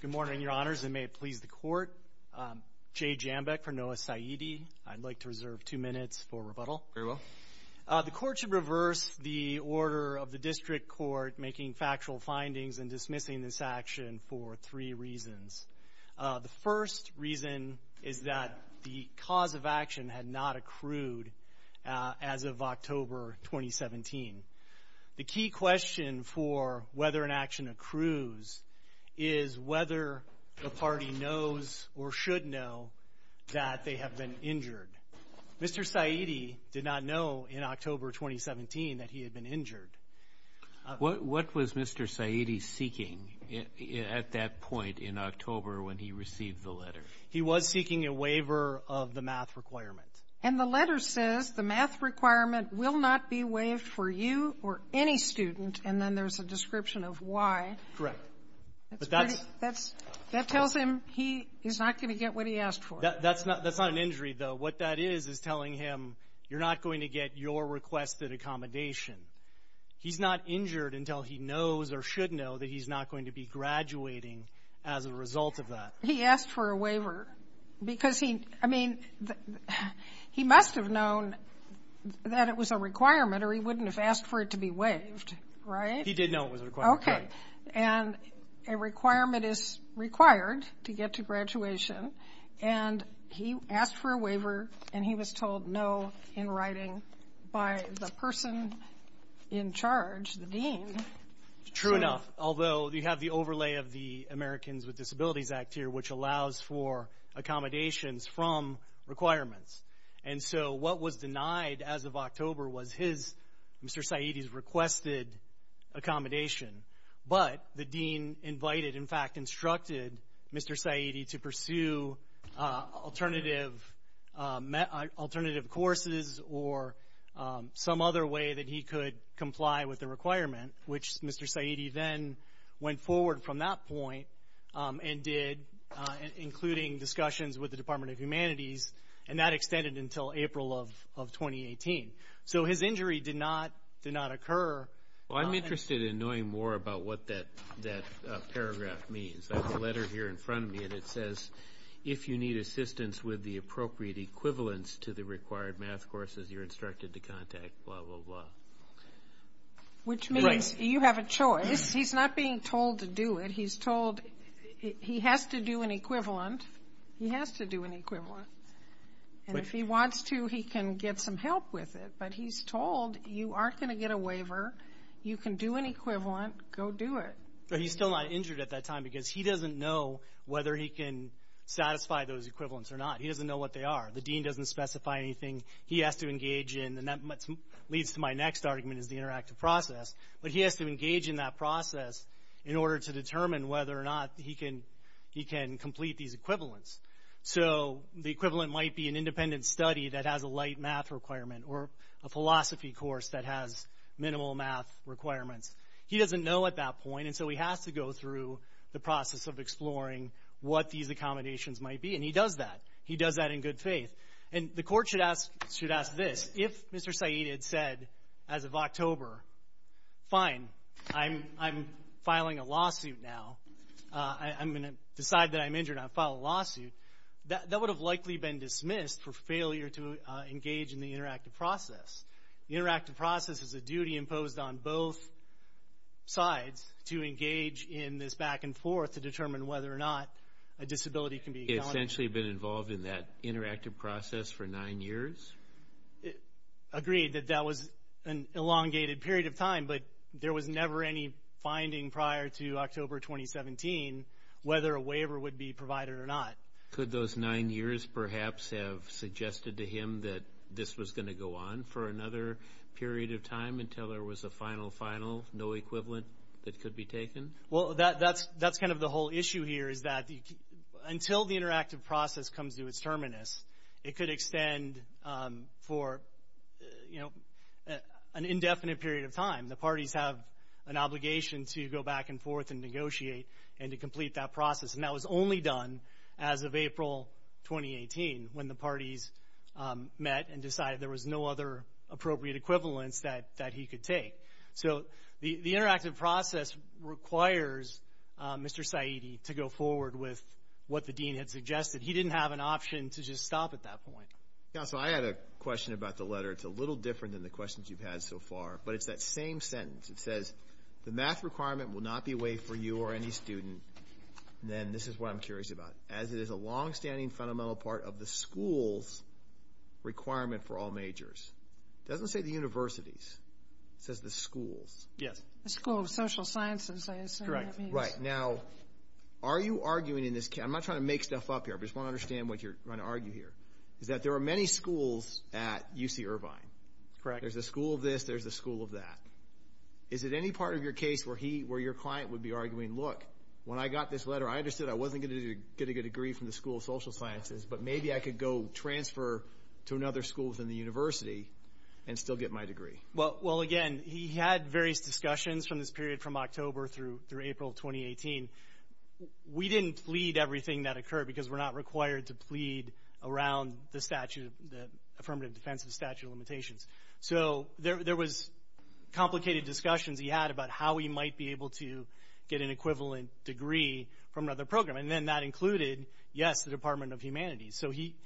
Good morning, Your Honors, and may it please the Court, Jay Jambeck for Noah Saeedy. I'd like to reserve two minutes for rebuttal. Very well. The Court should reverse the order of the District Court making factual findings and dismissing this action for three reasons. The first reason is that the cause of action had not accrued as of October 2017. The key question for whether an action accrues is whether the party knows or should know that they have been injured. Mr. Saeedy did not know in October 2017 that he had been injured. What was Mr. Saeedy seeking at that point in October when he received the letter? He was seeking a waiver of the math requirement. And the letter says the math requirement will not be waived for you or any student. And then there's a description of why. Correct. That tells him he's not going to get what he asked for. That's not an injury, though. What that is is telling him you're not going to get your request at accommodation. He's not injured until he knows or should know that he's not going to be graduating as a result of that. He asked for a waiver because he – I mean, he must have known that it was a requirement or he wouldn't have asked for it to be waived, right? He did know it was a requirement, correct. Okay. And a requirement is required to get to graduation. And he asked for a waiver, and he was told no in writing by the person in charge, the dean. True enough, although you have the overlay of the Americans with Disabilities Act here, which allows for accommodations from requirements. And so what was denied as of October was his – Mr. Saeedy's requested accommodation. But the dean invited – in fact, instructed Mr. Saeedy to pursue alternative courses or some other way that he could comply with the requirement, which Mr. Saeedy then went forward from that point and did, including discussions with the Department of Humanities. And that extended until April of 2018. So his injury did not occur – Well, I'm interested in knowing more about what that paragraph means. I have a letter here in front of me, and it says, if you need assistance with the appropriate equivalence to the required math courses, you're instructed to contact blah, blah, blah. Which means you have a choice. He's not being told to do it. He's told – he has to do an equivalent. He has to do an equivalent. And if he wants to, he can get some help with it. But he's told, you aren't going to get a waiver. You can do an equivalent. Go do it. But he's still not injured at that time because he doesn't know whether he can satisfy those equivalents or not. He doesn't know what they are. The dean doesn't specify anything he has to engage in. And that leads to my next argument, is the interactive process. But he has to engage in that process in order to determine whether or not he can – he can complete these equivalents. So the equivalent might be an independent study that has a light math requirement or a philosophy course that has minimal math requirements. He doesn't know at that point. And so he has to go through the process of exploring what these accommodations might be. And he does that. He does that in good faith. And the court should ask – should ask this. If Mr. Saeed had said as of October, fine, I'm filing a lawsuit now, I'm going to decide that I'm injured and I'll file a lawsuit, that would have likely been dismissed for failure to engage in the interactive process. The interactive process is a duty imposed on both sides to engage in this back and forth to determine whether or not a disability can be – He essentially has been involved in that interactive process for nine years? Agreed. That that was an elongated period of time. But there was never any finding prior to October 2017 whether a waiver would be provided or not. Could those nine years perhaps have suggested to him that this was going to go on for another period of time until there was a final, final, no equivalent that could be taken? Well, that's kind of the whole issue here is that until the interactive process comes to its terminus, it could extend for, you know, an indefinite period of time. The parties have an obligation to go back and forth and negotiate and to complete that process. And that was only done as of April 2018 when the parties met and decided there was no other appropriate equivalence that he could take. So the interactive process requires Mr. Saeed to go forward with what the dean had suggested. He didn't have an option to just stop at that point. Counsel, I had a question about the letter. It's a little different than the questions you've had so far, but it's that same sentence. It says, the math requirement will not be waived for you or any student, and then this is what I'm curious about. As it is a longstanding fundamental part of the school's requirement for all majors. It doesn't say the university's. It says the school's. Yes. The School of Social Sciences, I assume that means. Correct. Right. Now, are you arguing in this – I'm not trying to make stuff up here. I just want to understand what you're trying to argue here. Is that there are many schools at UC Irvine. Correct. There's a school of this. There's a school of that. Is it any part of your case where your client would be arguing, look, when I got this letter, I understood I wasn't going to get a good degree from the School of Social Sciences, but maybe I could go transfer to another school within the university and still get my degree? Well, again, he had various discussions from this period from October through April 2018. We didn't plead everything that occurred because we're not required to plead around the affirmative defense of the statute of limitations. So there was complicated discussions he had about how he might be able to get an equivalent degree from another program, and then that included, yes, the Department of Humanities. So he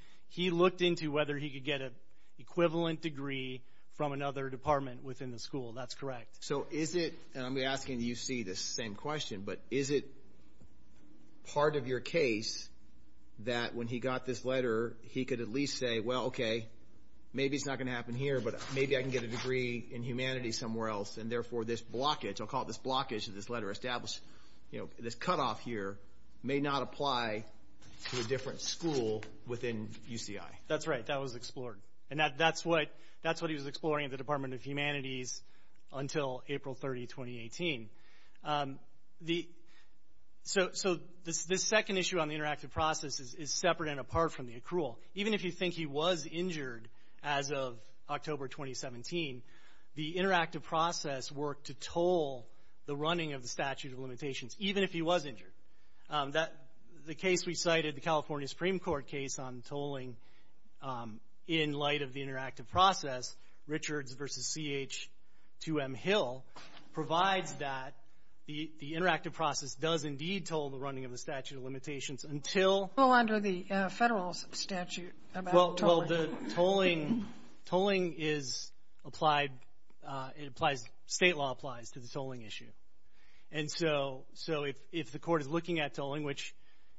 looked into whether he could get an equivalent degree from another department within the school. That's correct. So is it, and I'm asking the UC the same question, but is it part of your case that when he got this letter, he could at least say, well, okay, maybe it's not going to happen here, but maybe I can get a degree in humanity somewhere else. And therefore, this blockage, I'll call it this blockage of this letter established, you know, this cutoff here may not apply to a different school within UCI. That's right. That was explored. And that's what he was exploring at the Department of Humanities until April 30, 2018. So this second issue on the interactive process is separate and apart from the accrual. Even if you think he was injured as of October 2017, the interactive process worked to toll the running of the statute of limitations, even if he was injured. The case we cited, the California Supreme Court case on tolling in light of the interactive process, Richards v. C.H. 2M Hill, provides that the interactive process does indeed toll the running of the statute of limitations until- Well, under the federal statute about tolling. Well, the tolling is applied, it applies, state law applies to the tolling issue. And so, if the court is looking at tolling, which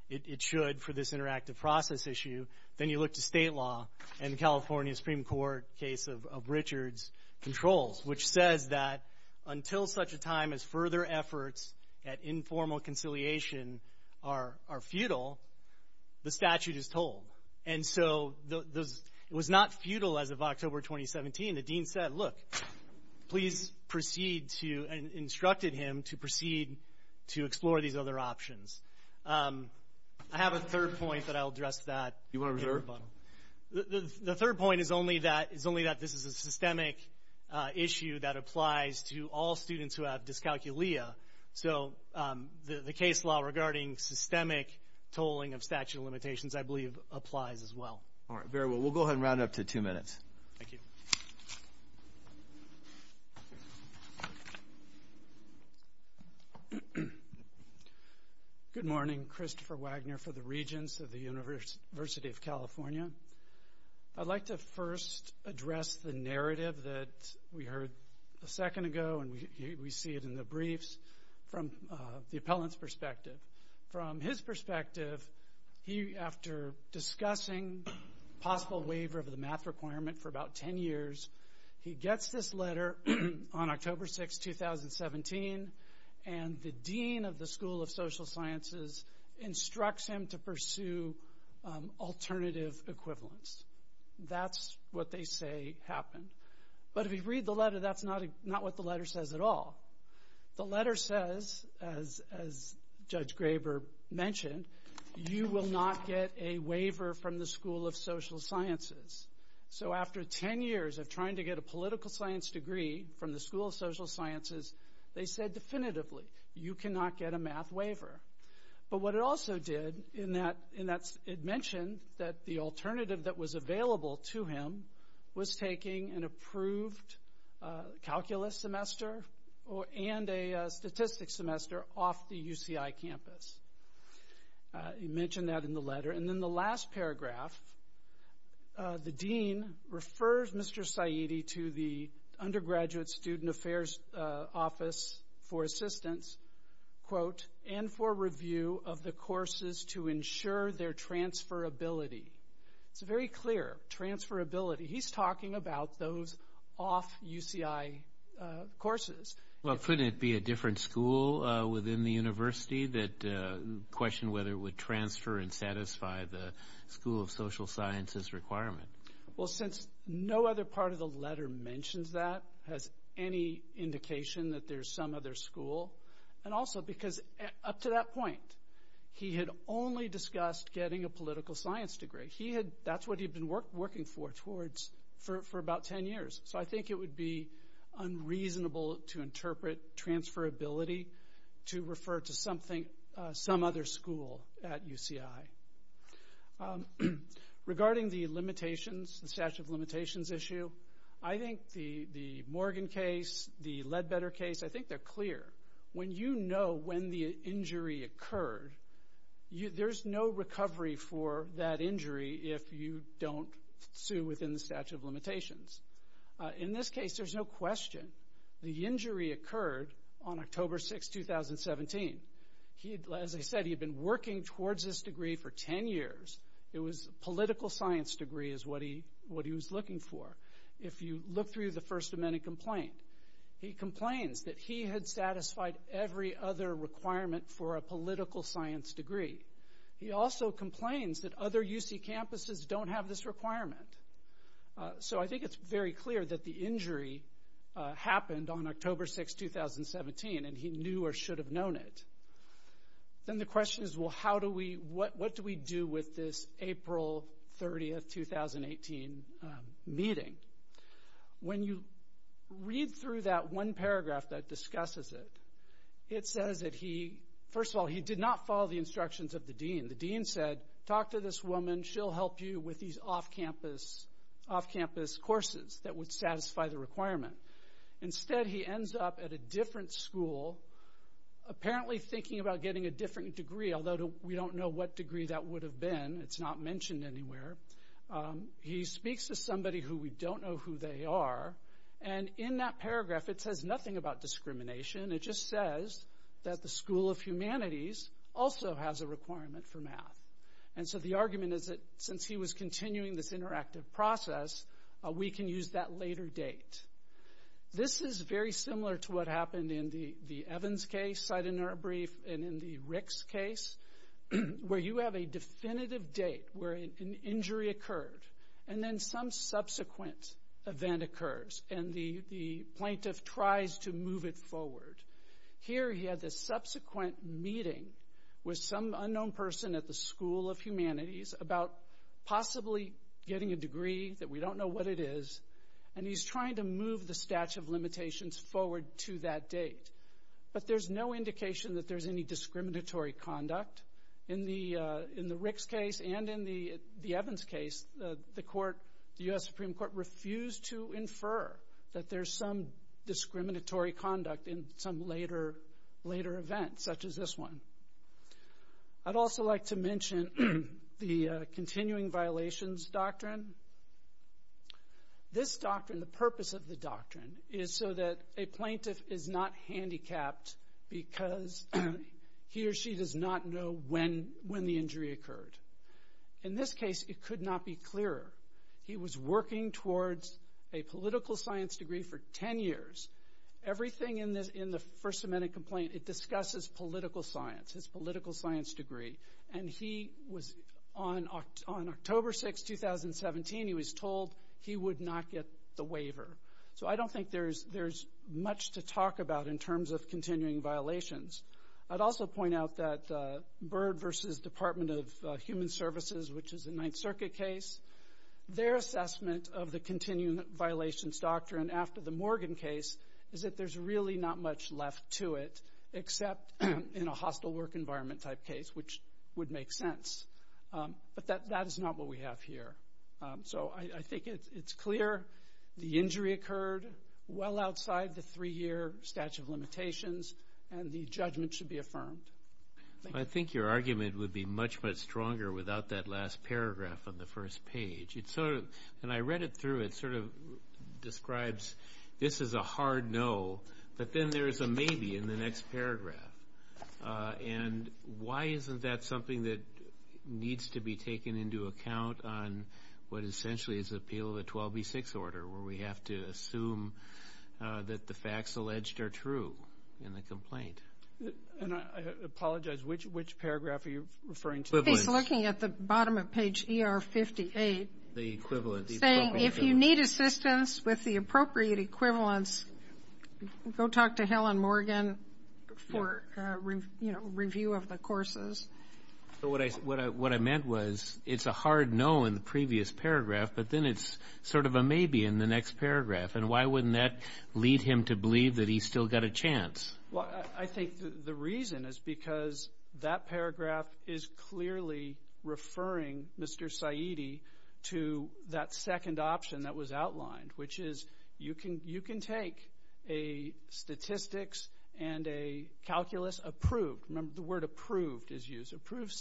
it should for this interactive process issue, then you look to state law and the California Supreme Court case of Richards controls, which says that until such a time as further efforts at informal conciliation are futile, the statute is tolled. And so, it was not futile as of October 2017, the dean said, look, please proceed to, instructed him to proceed to explore these other options. I have a third point that I'll address that. You want to reserve? The third point is only that this is a systemic issue that applies to all students who have dyscalculia. So, the case law regarding systemic tolling of statute of limitations, I believe, applies as well. All right, very well. We'll go ahead and round it up to two minutes. Thank you. Good morning, Christopher Wagner for the Regents of the University of California. I'd like to first address the narrative that we heard a second ago and we see it in the briefs from the appellant's perspective. From his perspective, he, after discussing possible waiver of the math requirement for about 10 years, he gets this letter on October 6, 2017, and the dean of the School of Social Sciences instructs him to pursue alternative equivalence. That's what they say happened. But if you read the letter, that's not what the letter says at all. The letter says, as Judge Graber mentioned, you will not get a waiver from the School of Social Sciences. So after 10 years of trying to get a political science degree from the School of Social Sciences, they said definitively, you cannot get a math waiver. But what it also did, it mentioned that the alternative that was available to him was taking an approved calculus semester and a statistics semester off the UCI campus. He mentioned that in the letter. And then the last paragraph, the dean refers Mr. Saidi to the Undergraduate Student Affairs Office for assistance, quote, and for review of the courses to ensure their transferability. It's very clear, transferability. He's talking about those off UCI courses. Well, couldn't it be a different school within the university that questioned whether it would transfer and satisfy the School of Social Sciences requirement? Well, since no other part of the letter mentions that, has any indication that there's some other school, and also because up to that point, he had only discussed getting a political science degree. He had, that's what he'd been working for towards, for about 10 years. So I think it would be unreasonable to interpret transferability to refer to something, some other school at UCI. Regarding the limitations, the statute of limitations issue, I think the Morgan case, the Ledbetter case, I think they're clear. When you know when the injury occurred, there's no recovery for that injury if you don't sue within the statute of limitations. In this case, there's no question. The injury occurred on October 6, 2017. As I said, he'd been working towards this degree for 10 years. It was political science degree is what he was looking for. If you look through the First Amendment complaint, he complains that he had satisfied every other requirement for a political science degree. He also complains that other UC campuses don't have this requirement. So I think it's very clear that the injury happened on October 6, 2017, and he knew or didn't. Then the question is, well, how do we, what do we do with this April 30, 2018 meeting? When you read through that one paragraph that discusses it, it says that he, first of all, he did not follow the instructions of the dean. The dean said, talk to this woman, she'll help you with these off-campus courses that would satisfy the requirement. Instead, he ends up at a different school, apparently thinking about getting a different degree, although we don't know what degree that would have been. It's not mentioned anywhere. He speaks to somebody who we don't know who they are, and in that paragraph, it says nothing about discrimination. It just says that the School of Humanities also has a requirement for math. So the argument is that since he was continuing this interactive process, we can use that later date. This is very similar to what happened in the Evans case, Seidener brief, and in the Ricks case, where you have a definitive date where an injury occurred, and then some subsequent event occurs, and the plaintiff tries to move it forward. Here he had this subsequent meeting with some unknown person at the School of Humanities about possibly getting a degree, that we don't know what it is, and he's trying to move the statute of limitations forward to that date. But there's no indication that there's any discriminatory conduct. In the Ricks case, and in the Evans case, the court, the U.S. Supreme Court, refused to infer that there's some discriminatory conduct in some later event, such as this one. I'd also like to mention the continuing violations doctrine. This doctrine, the purpose of the doctrine, is so that a plaintiff is not handicapped because he or she does not know when the injury occurred. In this case, it could not be clearer. He was working towards a political science degree for 10 years. Everything in the First Amendment complaint, it discusses political science, his political science degree. And he was, on October 6, 2017, he was told he would not get the waiver. So I don't think there's much to talk about in terms of continuing violations. I'd also point out that Byrd v. Department of Human Services, which is a Ninth Circuit case, their assessment of the continuing violations doctrine after the Morgan case is that there's really not much left to it except in a hostile work environment type case, which would make sense. But that is not what we have here. So I think it's clear the injury occurred well outside the three-year statute of limitations, and the judgment should be affirmed. I think your argument would be much, much stronger without that last paragraph on the first page. It sort of, when I read it through, it sort of describes this is a hard no, but then there's a maybe in the next paragraph. And why isn't that something that needs to be taken into account on what essentially is the appeal of the 12B6 order, where we have to assume that the facts alleged are true in the complaint? And I apologize, which paragraph are you referring to? He's looking at the bottom of page ER58. The equivalent. Saying if you need assistance with the appropriate equivalents, go talk to Helen Morgan for review of the courses. What I meant was it's a hard no in the previous paragraph, but then it's sort of a maybe in the next paragraph. And why wouldn't that lead him to believe that he's still got a chance? I think the reason is because that paragraph is clearly referring, Mr. Saidi, to that second option that was outlined, which is you can take a statistics and a calculus approved, remember the word approved is used, approved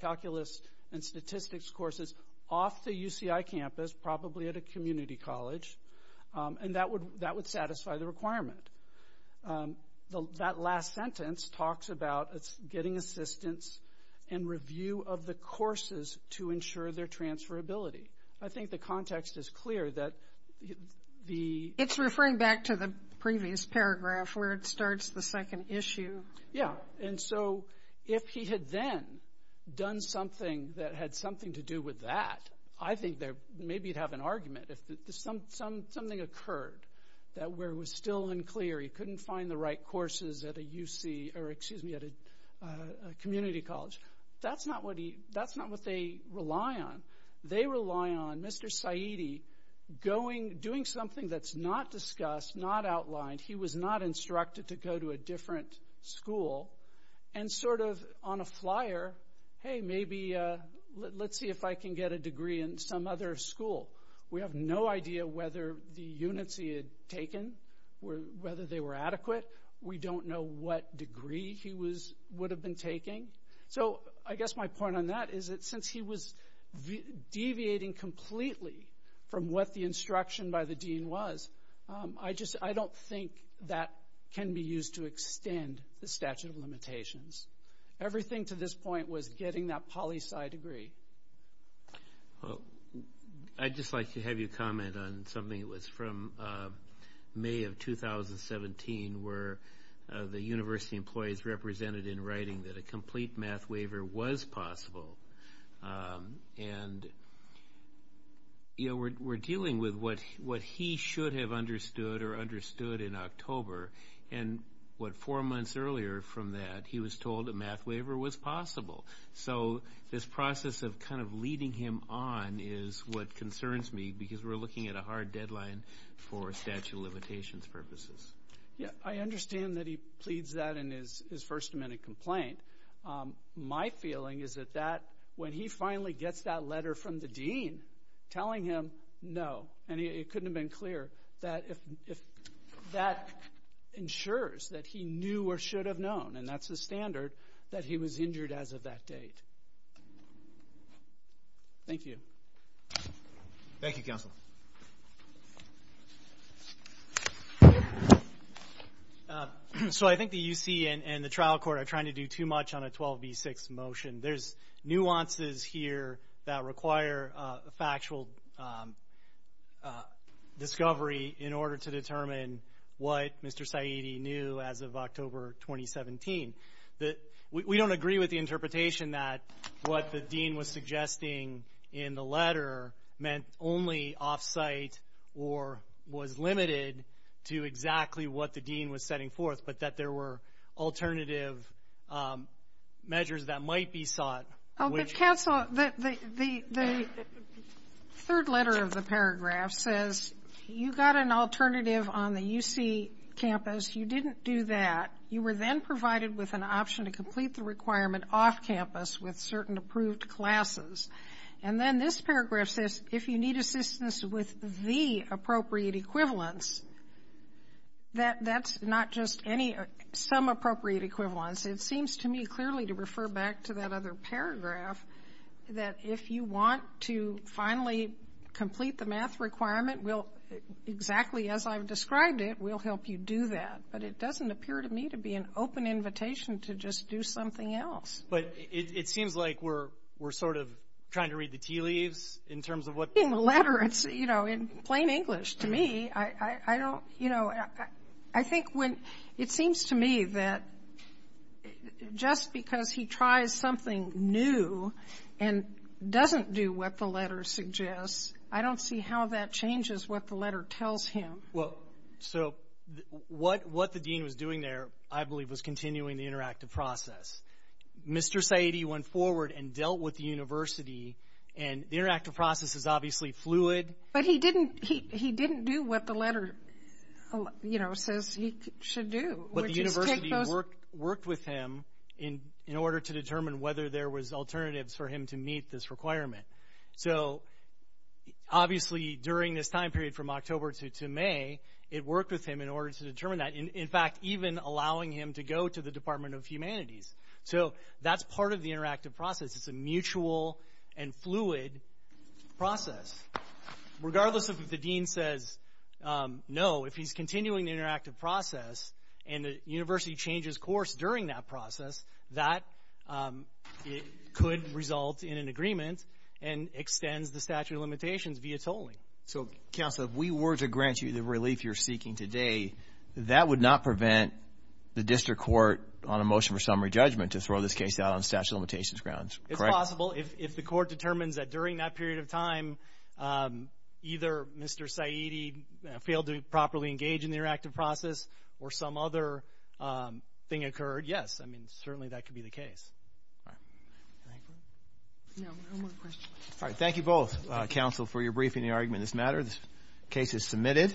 calculus and statistics courses off the UCI campus, probably at a community college, and that would satisfy the requirement. That last sentence talks about it's getting assistance and review of the courses to ensure their transferability. I think the context is clear that the... It's referring back to the previous paragraph where it starts the second issue. Yeah. And so if he had then done something that had something to do with that, I think there maybe he'd have an argument. Something occurred that where it was still unclear, he couldn't find the right courses at a community college. That's not what they rely on. They rely on Mr. Saidi doing something that's not discussed, not outlined, he was not instructed to go to a different school, and sort of on a flyer, hey, maybe let's see if I can get a degree in some other school. We have no idea whether the units he had taken, whether they were adequate. We don't know what degree he would have been taking. So I guess my point on that is since he was deviating completely from what the instruction by the dean was, I don't think that can be used to extend the statute of limitations. Everything to this point was getting that poli-sci degree. I'd just like to have you comment on something that was from May of 2017 where the university employees represented in writing that a complete math waiver was possible, and we're dealing with what he should have understood or understood in October, and what four months earlier from that he was told a math waiver was possible. So this process of kind of leading him on is what concerns me because we're looking at a hard deadline for statute of limitations purposes. I understand that he pleads that in his first amendment complaint. My feeling is that when he finally gets that letter from the dean telling him no, and it that's the standard, that he was injured as of that date. Thank you. Thank you, counsel. So I think the UC and the trial court are trying to do too much on a 12v6 motion. There's nuances here that require a factual discovery in order to determine what Mr. Saidi knew as of October 2017. We don't agree with the interpretation that what the dean was suggesting in the letter meant only off-site or was limited to exactly what the dean was setting forth, but that there were alternative measures that might be sought. Counsel, the third letter of the paragraph says you got an alternative on the UC campus. You didn't do that. You were then provided with an option to complete the requirement off-campus with certain approved classes. And then this paragraph says if you need assistance with the appropriate equivalents, that's not just some appropriate equivalents. It seems to me clearly to refer back to that other paragraph that if you want to finally complete the math requirement, exactly as I've described it, we'll help you do that. But it doesn't appear to me to be an open invitation to just do something else. But it seems like we're sort of trying to read the tea leaves in terms of what the letter is. In plain English, to me, I don't, you know, I think when it seems to me that just because he tries something new and doesn't do what the letter suggests, I don't see how that changes what the letter tells him. Well, so what the dean was doing there, I believe, was continuing the interactive process. Mr. Saidi went forward and dealt with the university, and the interactive process is obviously fluid. But he didn't do what the letter, you know, says he should do. But the university worked with him in order to determine whether there was alternatives for him to meet this requirement. So obviously, during this time period from October to May, it worked with him in order to determine that. In fact, even allowing him to go to the Department of Humanities. So that's part of the interactive process. It's a mutual and fluid process. Regardless of if the dean says no, if he's continuing the interactive process and the university changes course during that process, that could result in an agreement and extends the statute of limitations via tolling. So counsel, if we were to grant you the relief you're seeking today, that would not prevent the district court on a motion for summary judgment to throw this case out on statute of limitations grounds. Correct? It's possible. If the court determines that during that period of time, either Mr. Saidi failed to properly engage in the interactive process or some other thing occurred, yes, I mean, certainly that could be the case. All right. Thank you. No, no more questions. All right. Thank you both, counsel, for your briefing and your argument in this matter. This case is submitted.